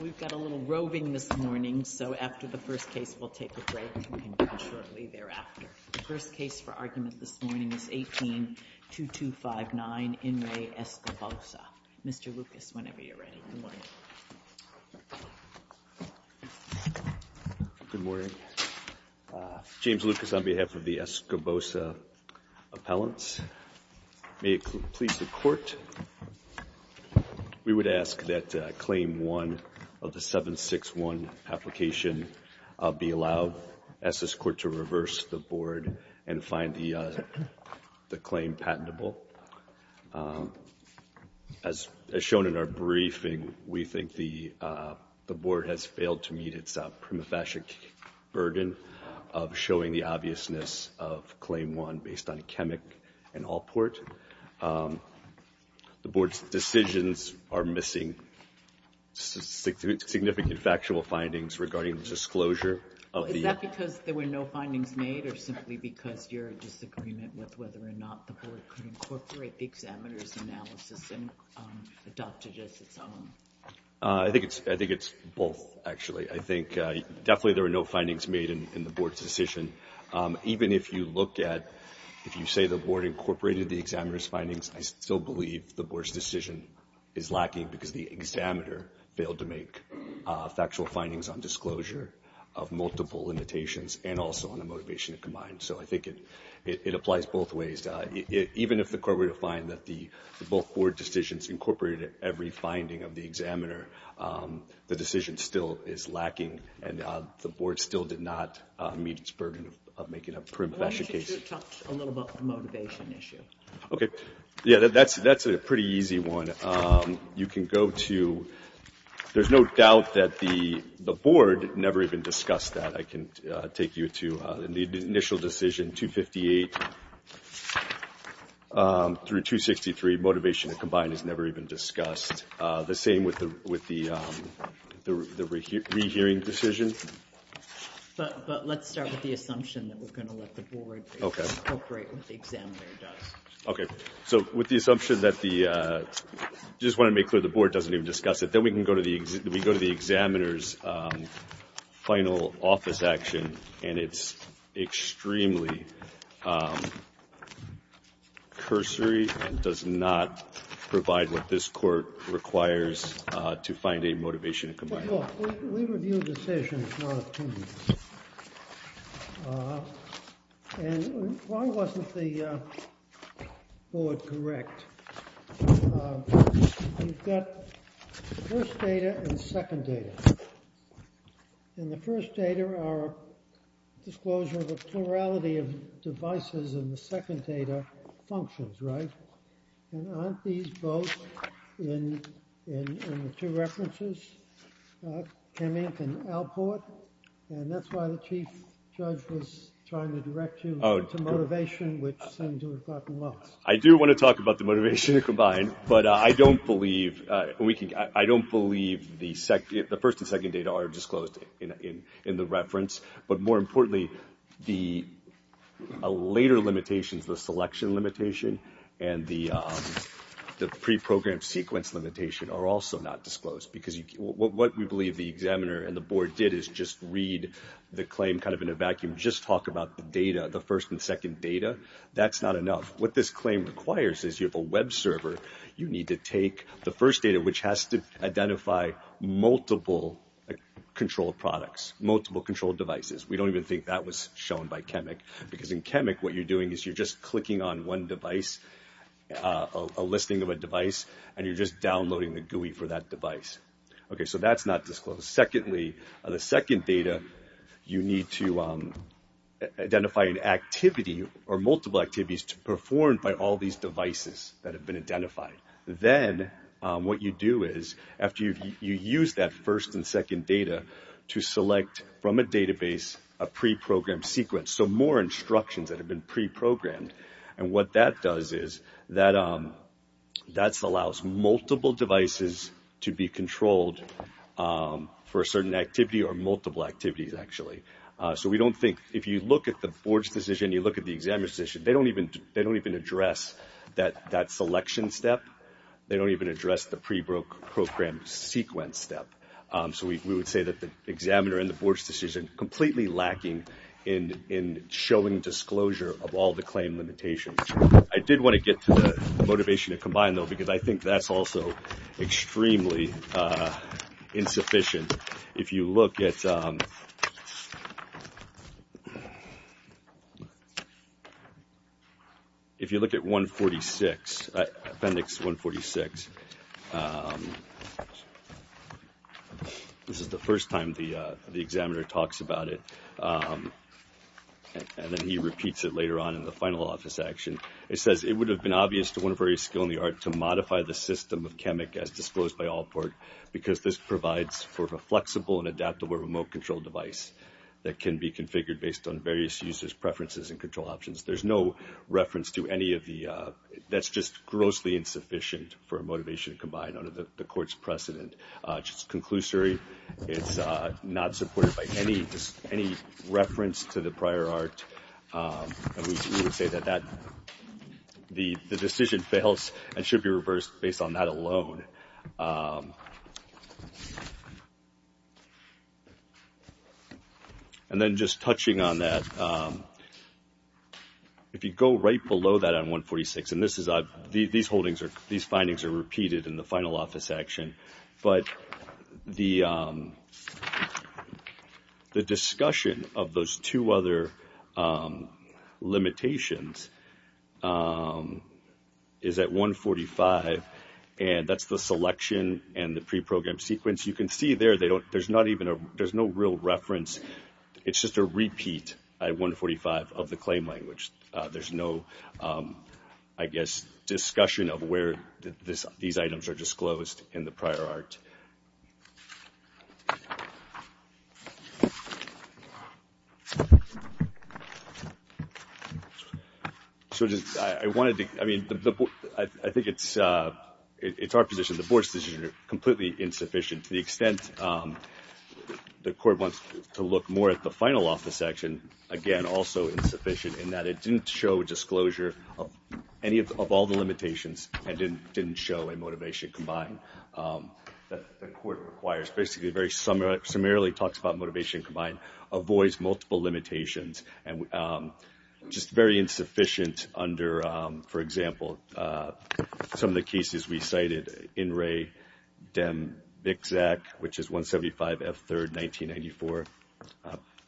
We've got a little roving this morning, so after the first case, we'll take a break and continue shortly thereafter. The first case for argument this morning is 18-2259, In Re Escobosa. Mr. Lucas, whenever you're ready, good morning. Good morning. James Lucas on behalf of the Escobosa appellants. May it please the Court, we would ask that Claim 1 of the 761 application be allowed. I ask this Court to reverse the Board and find the claim patentable. As shown in our briefing, we think the Board has failed to meet its prima facie burden of showing the obviousness of Claim 1 based on Akemik and Allport. The Board's decisions are missing significant factual findings regarding the disclosure of the... Is that because there were no findings made or simply because you're in disagreement with whether or not the Board could incorporate the examiner's analysis and adopt it as its own? I think it's both, actually. I think definitely there were no findings made in the Board's decision. Even if you look at, if you say the Board incorporated the examiner's findings, I still believe the Board's decision is lacking because the examiner failed to make factual findings on disclosure of multiple limitations and also on a motivation to combine. So I think it applies both ways. Even if the Court were to find that both Board decisions incorporated every finding of the examiner, the decision still is lacking and the Board still did not meet its burden of making a prima facie case. Why don't you talk a little about the motivation issue? Okay. Yeah, that's a pretty easy one. You can go to, there's no doubt that the Board never even discussed that. I can take you to the initial decision, 258 through 263, motivation to combine is never even discussed. The same with the rehearing decision. But let's start with the assumption that we're going to let the Board incorporate what the examiner does. Okay. So with the assumption that the, I just want to make clear the Board doesn't even discuss it. Then we can go to the, we go to the examiner's final office action and it's extremely cursory and does not provide what this Court requires to find a motivation to combine. Look, we review decisions, not opinions. And why wasn't the Board correct? You've got first data and second data. In the first data, our disclosure of the plurality of devices in the second data functions, right? And aren't these both in the two references? Kemink and Alport? And that's why the Chief Judge was trying to direct you to motivation, which seemed to have gotten lost. I do want to talk about the motivation to combine, but I don't believe we can, I don't believe the first and second data are disclosed in the reference. But more importantly, the later limitations, the selection limitation and the pre-programmed sequence limitation are also not disclosed. Because what we believe the examiner and the Board did is just read the claim kind of in a vacuum, just talk about the data, the first and second data. That's not enough. What this claim requires is you have a web server, you need to take the first data, which has to identify multiple control products, multiple control devices. We don't even think that was shown by Kemink. Because in Kemink, what you're doing is you're just clicking on one device, a listing of a device, and you're just downloading the GUI for that device. Okay, so that's not disclosed. Secondly, the second data, you need to identify an activity or multiple activities performed by all these devices that have been identified. Then what you do is after you use that first and second data to select from a database a pre-programmed sequence, so more instructions that have been pre-programmed. And what that does is that allows multiple devices to be controlled for a certain activity or multiple activities, actually. So we don't think, if you look at the Board's decision, you look at the examiner's decision, they don't even address that selection step. They don't even address the pre-programmed sequence step. So we would say that the examiner and the Board's decision are completely lacking in showing disclosure of all the claim limitations. I did want to get to the motivation to combine, though, because I think that's also extremely insufficient. If you look at 146, appendix 146, this is the first time the examiner talks about it, and then he repeats it later on in the final office action. It says, it would have been obvious to one of our areas of skill in the art to modify the system of CHEMIC as disclosed by Allport because this provides for a flexible and adaptable remote control device that can be configured based on various users' preferences and control options. There's no reference to any of the – that's just grossly insufficient for a motivation to combine under the Court's precedent. It's conclusory. It's not supported by any reference to the prior art. We would say that the decision fails and should be reversed based on that alone. And then just touching on that, if you go right below that on 146, and this is – these findings are repeated in the final office action, but the discussion of those two other limitations is at 145, and that's the selection and the pre-programmed sequence. You can see there, there's not even a – there's no real reference. It's just a repeat at 145 of the claim language. There's no, I guess, discussion of where these items are disclosed in the prior art. So just – I wanted to – I mean, I think it's our position. The Board's decision is completely insufficient to the extent the Court wants to look more at the final office action, again, also insufficient in that it didn't show disclosure of any of all the limitations and didn't show a motivation combined that the Court requires. Basically, it very summarily talks about motivation combined, avoids multiple limitations, and just very insufficient under, for example, some of the cases we cited, INRE, DEM, BICZAC, which is 175F3, 1994.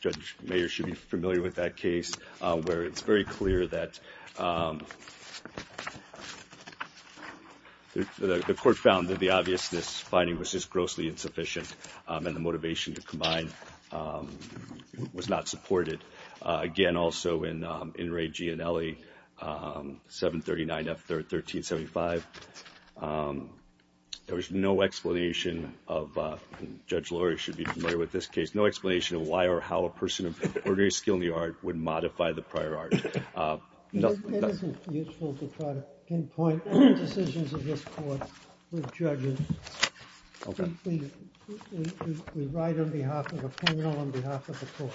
Judge Mayer should be familiar with that case where it's very clear that the Court found that the obviousness finding was just grossly insufficient and the motivation to combine was not supported. Again, also in INRE, GIANELLI, 739F1375, there was no explanation of – and Judge Lori should be familiar with this case – no explanation of why or how a person of ordinary skill in the art would modify the prior art. It isn't useful to try to pinpoint any decisions of this Court with judges. Okay. We write on behalf of the panel, on behalf of the Court.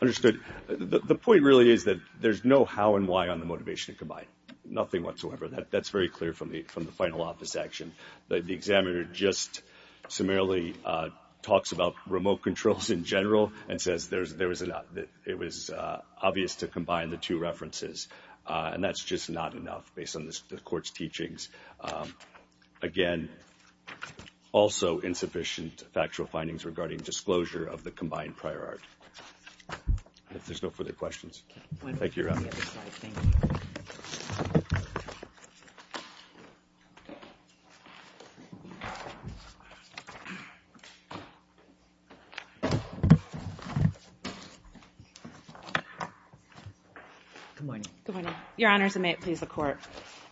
Understood. The point really is that there's no how and why on the motivation to combine. Nothing whatsoever. That's very clear from the final office action. The examiner just summarily talks about remote controls in general and says it was obvious to combine the two references, and that's just not enough based on the Court's teachings. Again, also insufficient factual findings regarding disclosure of the combined prior art. If there's no further questions. Thank you, Your Honor. Good morning. Good morning. Your Honors, and may it please the Court.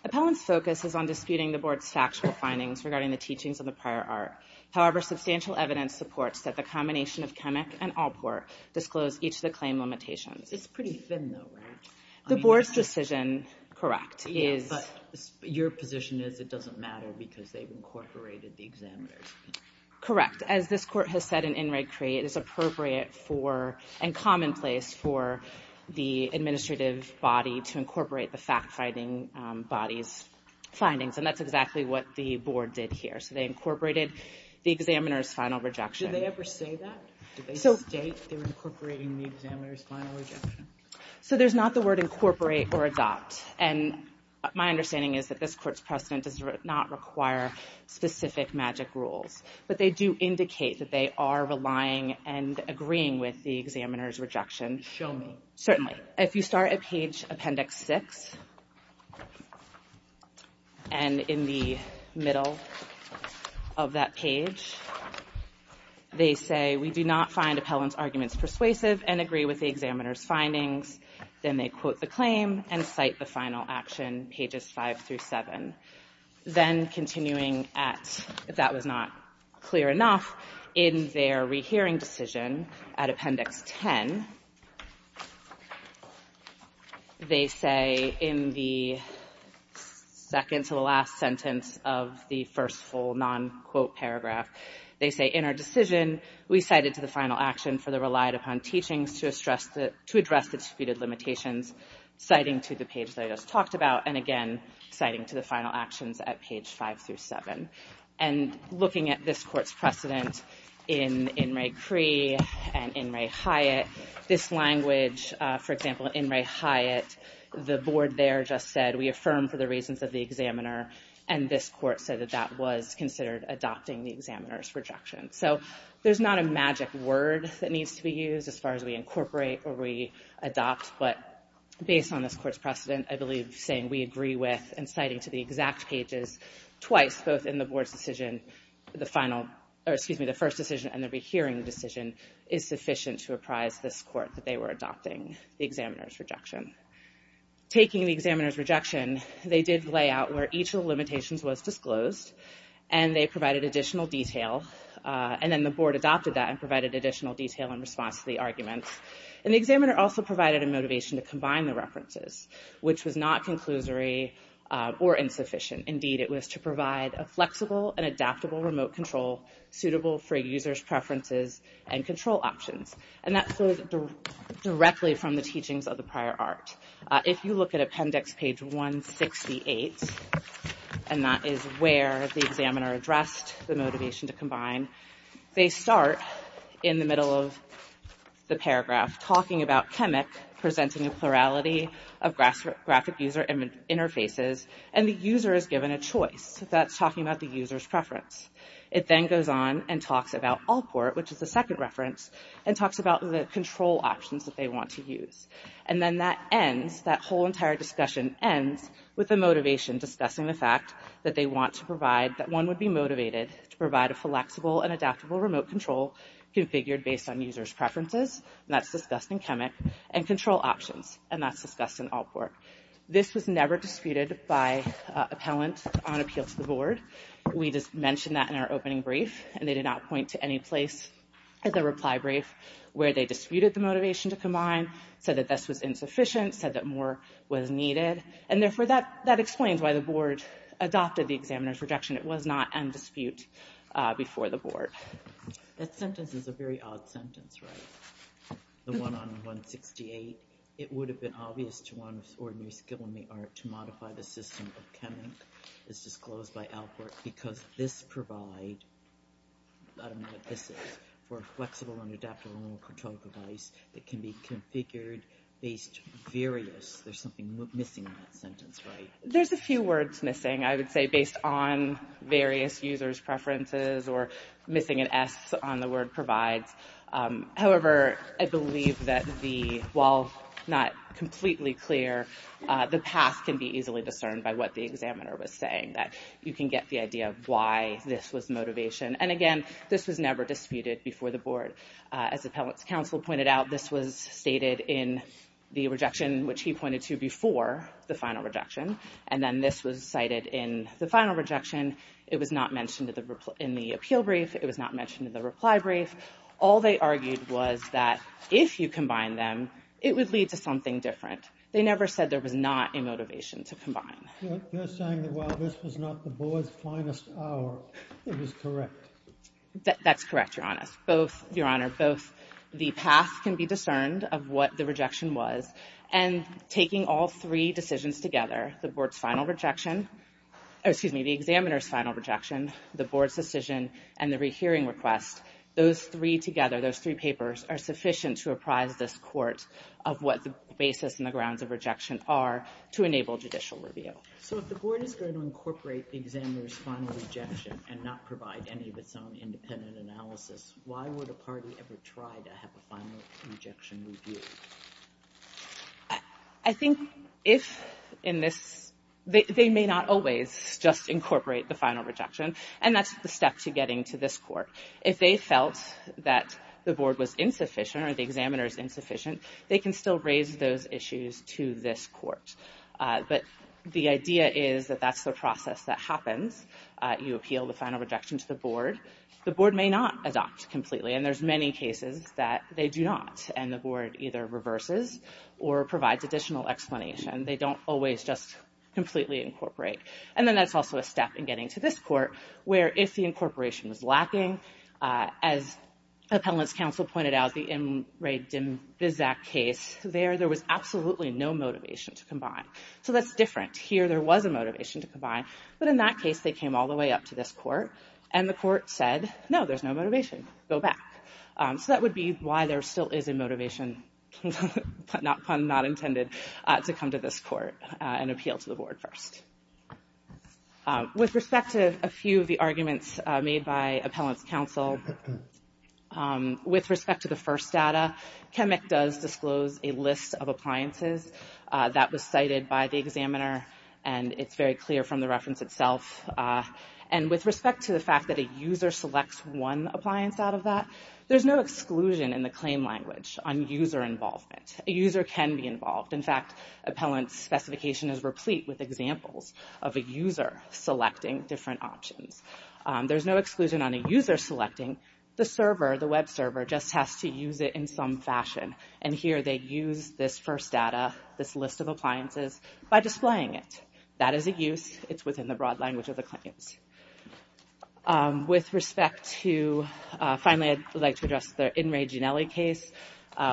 Appellant's focus is on disputing the Board's factual findings regarding the teachings of the prior art. However, substantial evidence supports that the combination of Kemmick and Alport disclosed each of the claim limitations. It's pretty thin, though, right? The Board's decision, correct, is – Yeah, but your position is it doesn't matter because they've incorporated the examiners. Correct. As this Court has said in In Re Cree, it is appropriate for and commonplace for the administrative body to incorporate the fact-finding body's findings, and that's exactly what the Board did here. So they incorporated the examiner's final rejection. Did they ever say that? Did they state they were incorporating the examiner's final rejection? So there's not the word incorporate or adopt, and my understanding is that this Court's precedent does not require specific magic rules, but they do indicate that they are relying and agreeing with the examiner's rejection. Show me. Certainly. If you start at page Appendix 6, and in the middle of that page, they say, We do not find Appellant's arguments persuasive and agree with the examiner's findings. Then they quote the claim and cite the final action, pages 5 through 7. Then continuing at, if that was not clear enough, in their rehearing decision at Appendix 10, they say in the second to the last sentence of the first full non-quote paragraph, they say, In our decision, we cited to the final action for the relied-upon teachings to address the disputed limitations, citing to the page that I just talked about, and again citing to the final actions at page 5 through 7. And looking at this Court's precedent in In re Cree and In re Hyatt, this language, for example, in In re Hyatt, the board there just said, We affirm for the reasons of the examiner, and this Court said that that was considered adopting the examiner's rejection. So there's not a magic word that needs to be used as far as we incorporate or we adopt, but based on this Court's precedent, I believe saying we agree with and citing to the exact pages twice, both in the board's decision, the first decision and the rehearing decision, is sufficient to apprise this Court that they were adopting the examiner's rejection. Taking the examiner's rejection, they did lay out where each of the limitations was disclosed, and they provided additional detail, and then the board adopted that and provided additional detail in response to the arguments. And the examiner also provided a motivation to combine the references, which was not conclusory or insufficient. Indeed, it was to provide a flexible and adaptable remote control suitable for a user's preferences and control options, and that flows directly from the teachings of the prior art. If you look at appendix page 168, and that is where the examiner addressed the motivation to combine, they start in the middle of the paragraph talking about Chemic presenting a plurality of graphic user interfaces, and the user is given a choice. That's talking about the user's preference. It then goes on and talks about Alport, which is the second reference, and talks about the control options that they want to use. And then that ends, that whole entire discussion ends, with the motivation discussing the fact that they want to provide, that one would be motivated to provide a flexible and adaptable remote control configured based on user's preferences, and that's discussed in Chemic, and control options, and that's discussed in Alport. This was never disputed by appellant on appeal to the board. We just mentioned that in our opening brief, and they did not point to any place in the reply brief where they disputed the motivation to combine, said that this was insufficient, said that more was needed, and therefore that explains why the board adopted the examiner's rejection. It was not in dispute before the board. That sentence is a very odd sentence, right? The one on 168, it would have been obvious to one with ordinary skill in the art to modify the system of Chemic, as disclosed by Alport, because this provide, I don't know what this is, for a flexible and adaptable remote control device that can be configured based on various, there's something missing in that sentence, right? There's a few words missing, I would say, based on various user's preferences, or missing an S on the word provides. However, I believe that the, while not completely clear, the past can be easily discerned by what the examiner was saying, that you can get the idea of why this was motivation, and again, this was never disputed before the board. As the appellant's counsel pointed out, this was stated in the rejection, which he pointed to before the final rejection, and then this was cited in the final rejection. It was not mentioned in the appeal brief. It was not mentioned in the reply brief. All they argued was that if you combine them, it would lead to something different. They never said there was not a motivation to combine. You're saying that while this was not the board's finest hour, it was correct. That's correct, Your Honor. Both, Your Honor, both the past can be discerned of what the rejection was, and taking all three decisions together, the board's final rejection, excuse me, the examiner's final rejection, the board's decision, and the rehearing request, those three together, those three papers, are sufficient to apprise this court of what the basis and the grounds of rejection are to enable judicial review. So if the board is going to incorporate the examiner's final rejection and not provide any of its own independent analysis, why would a party ever try to have a final rejection review? I think if in this, they may not always just incorporate the final rejection, and that's the step to getting to this court. If they felt that the board was insufficient or the examiner's insufficient, they can still raise those issues to this court. But the idea is that that's the process that happens. You appeal the final rejection to the board. The board may not adopt completely, and there's many cases that they do not, and the board either reverses or provides additional explanation. They don't always just completely incorporate. And then that's also a step in getting to this court, where if the incorporation was lacking, as Appellant's counsel pointed out, the Imre Dimvizak case, there was absolutely no motivation to combine. So that's different. Here there was a motivation to combine, but in that case they came all the way up to this court, and the court said, no, there's no motivation. Go back. So that would be why there still is a motivation, pun not intended, to come to this court and appeal to the board first. With respect to a few of the arguments made by Appellant's counsel, with respect to the first data, CHEMIC does disclose a list of appliances that was cited by the examiner, and it's very clear from the reference itself. And with respect to the fact that a user selects one appliance out of that, there's no exclusion in the claim language on user involvement. A user can be involved. In fact, Appellant's specification is replete with examples of a user selecting different options. There's no exclusion on a user selecting. The server, the web server, just has to use it in some fashion. And here they use this first data, this list of appliances, by displaying it. That is a use. It's within the broad language of the claims. With respect to, finally I'd like to address the In Re Ginelli case,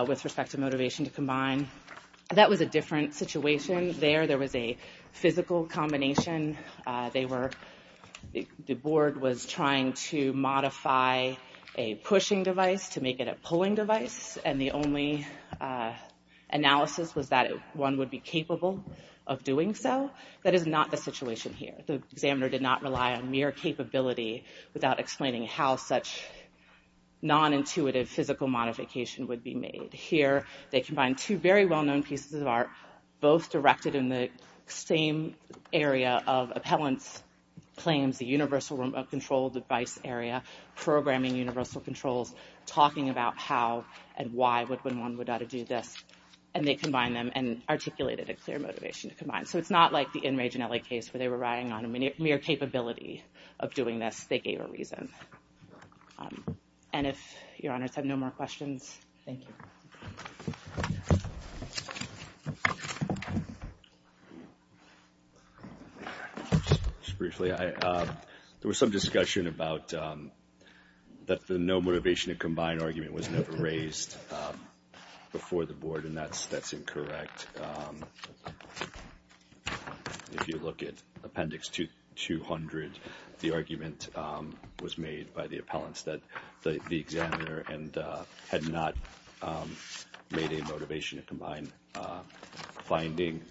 with respect to motivation to combine. That was a different situation there. There was a physical combination. They were, the board was trying to modify a pushing device to make it a pulling device, and the only analysis was that one would be capable of doing so. That is not the situation here. The examiner did not rely on mere capability without explaining how such non-intuitive physical modification would be made. Here, they combined two very well-known pieces of art, both directed in the same area of Appellant's claims, the universal control device area, programming universal controls, talking about how and why one would ought to do this. And they combined them and articulated a clear motivation to combine. So it's not like the In Re Ginelli case where they were relying on a mere capability of doing this. They gave a reason. And if your honors have no more questions, thank you. Just briefly, there was some discussion about that the no motivation to combine argument was never raised before the board, and that's incorrect. If you look at Appendix 200, the argument was made by the appellants that the examiner had not made a motivation to combine finding.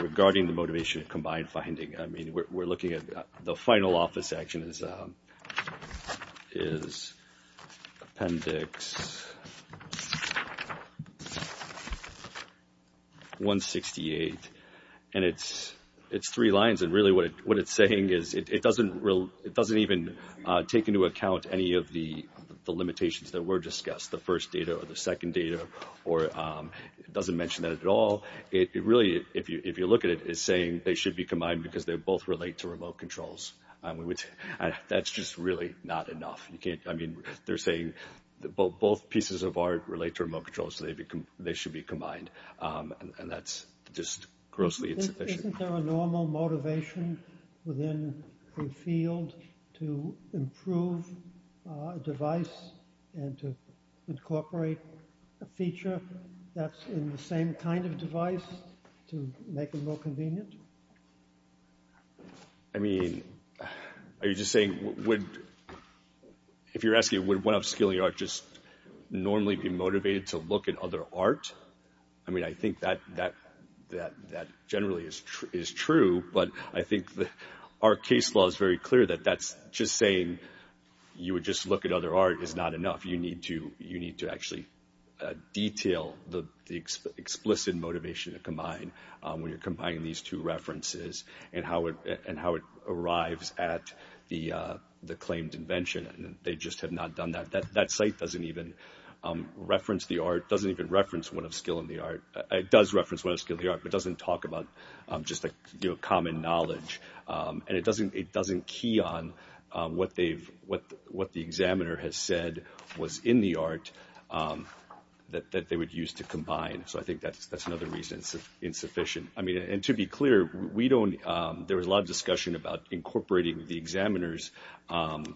Regarding the motivation to combine finding, I mean, we're looking at the final office action is Appendix 168. And it's three lines, and really what it's saying is it doesn't even take into account any of the limitations that were discussed, the first data or the second data, or it doesn't mention that at all. It really, if you look at it, is saying they should be combined because they both relate to remote controls. That's just really not enough. I mean, they're saying both pieces of art relate to remote controls, so they should be combined. And that's just grossly insufficient. Isn't there a normal motivation within the field to improve a device and to incorporate a feature that's in the same kind of device to make it more convenient? I mean, are you just saying, if you're asking would one-off skill in your art just normally be motivated to look at other art? I mean, I think that generally is true, but I think our case law is very clear that that's just saying you would just look at other art is not enough. You need to actually detail the explicit motivation to combine when you're combining these two references and how it arrives at the claimed invention. They just have not done that. That site doesn't even reference the art, doesn't even reference one-off skill in the art. It does reference one-off skill in the art, but it doesn't talk about just common knowledge, and it doesn't key on what the examiner has said was in the art that they would use to combine. So I think that's another reason it's insufficient. I mean, and to be clear, there was a lot of discussion about incorporating the examiner's actions.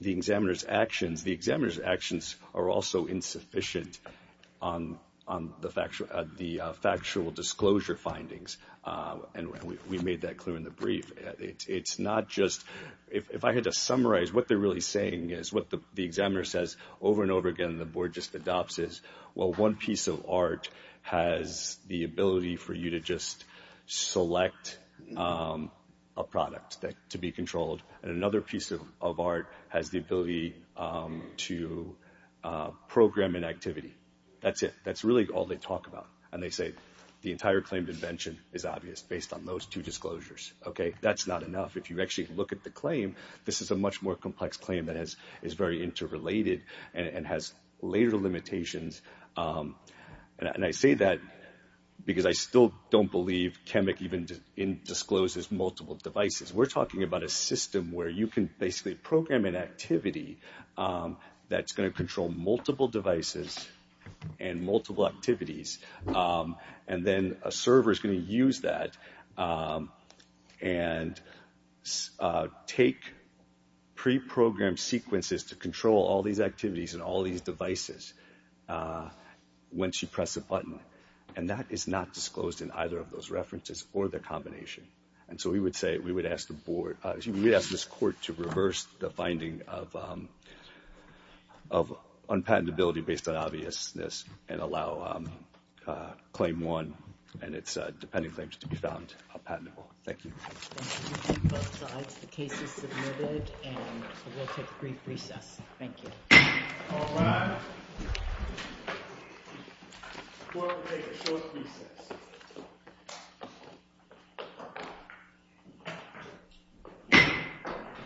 The examiner's actions are also insufficient on the factual disclosure findings, and we made that clear in the brief. It's not just, if I had to summarize, what they're really saying is what the examiner says over and over again and the board just adopts is, well, one piece of art has the ability for you to just select a product to be controlled, and another piece of art has the ability to program an activity. That's it. That's really all they talk about, and they say the entire claimed invention is obvious based on those two disclosures. Okay, that's not enough. If you actually look at the claim, this is a much more complex claim that is very interrelated and has later limitations, and I say that because I still don't believe CHEMIC even discloses multiple devices. We're talking about a system where you can basically program an activity that's going to control multiple devices and multiple activities, and then a server is going to use that and take preprogrammed sequences to control all these activities and all these devices once you press a button, and that is not disclosed in either of those references or the combination. And so we would say we would ask this court to reverse the finding of unpatentability based on obviousness and allow claim one and its depending claims to be found patentable. Thank you.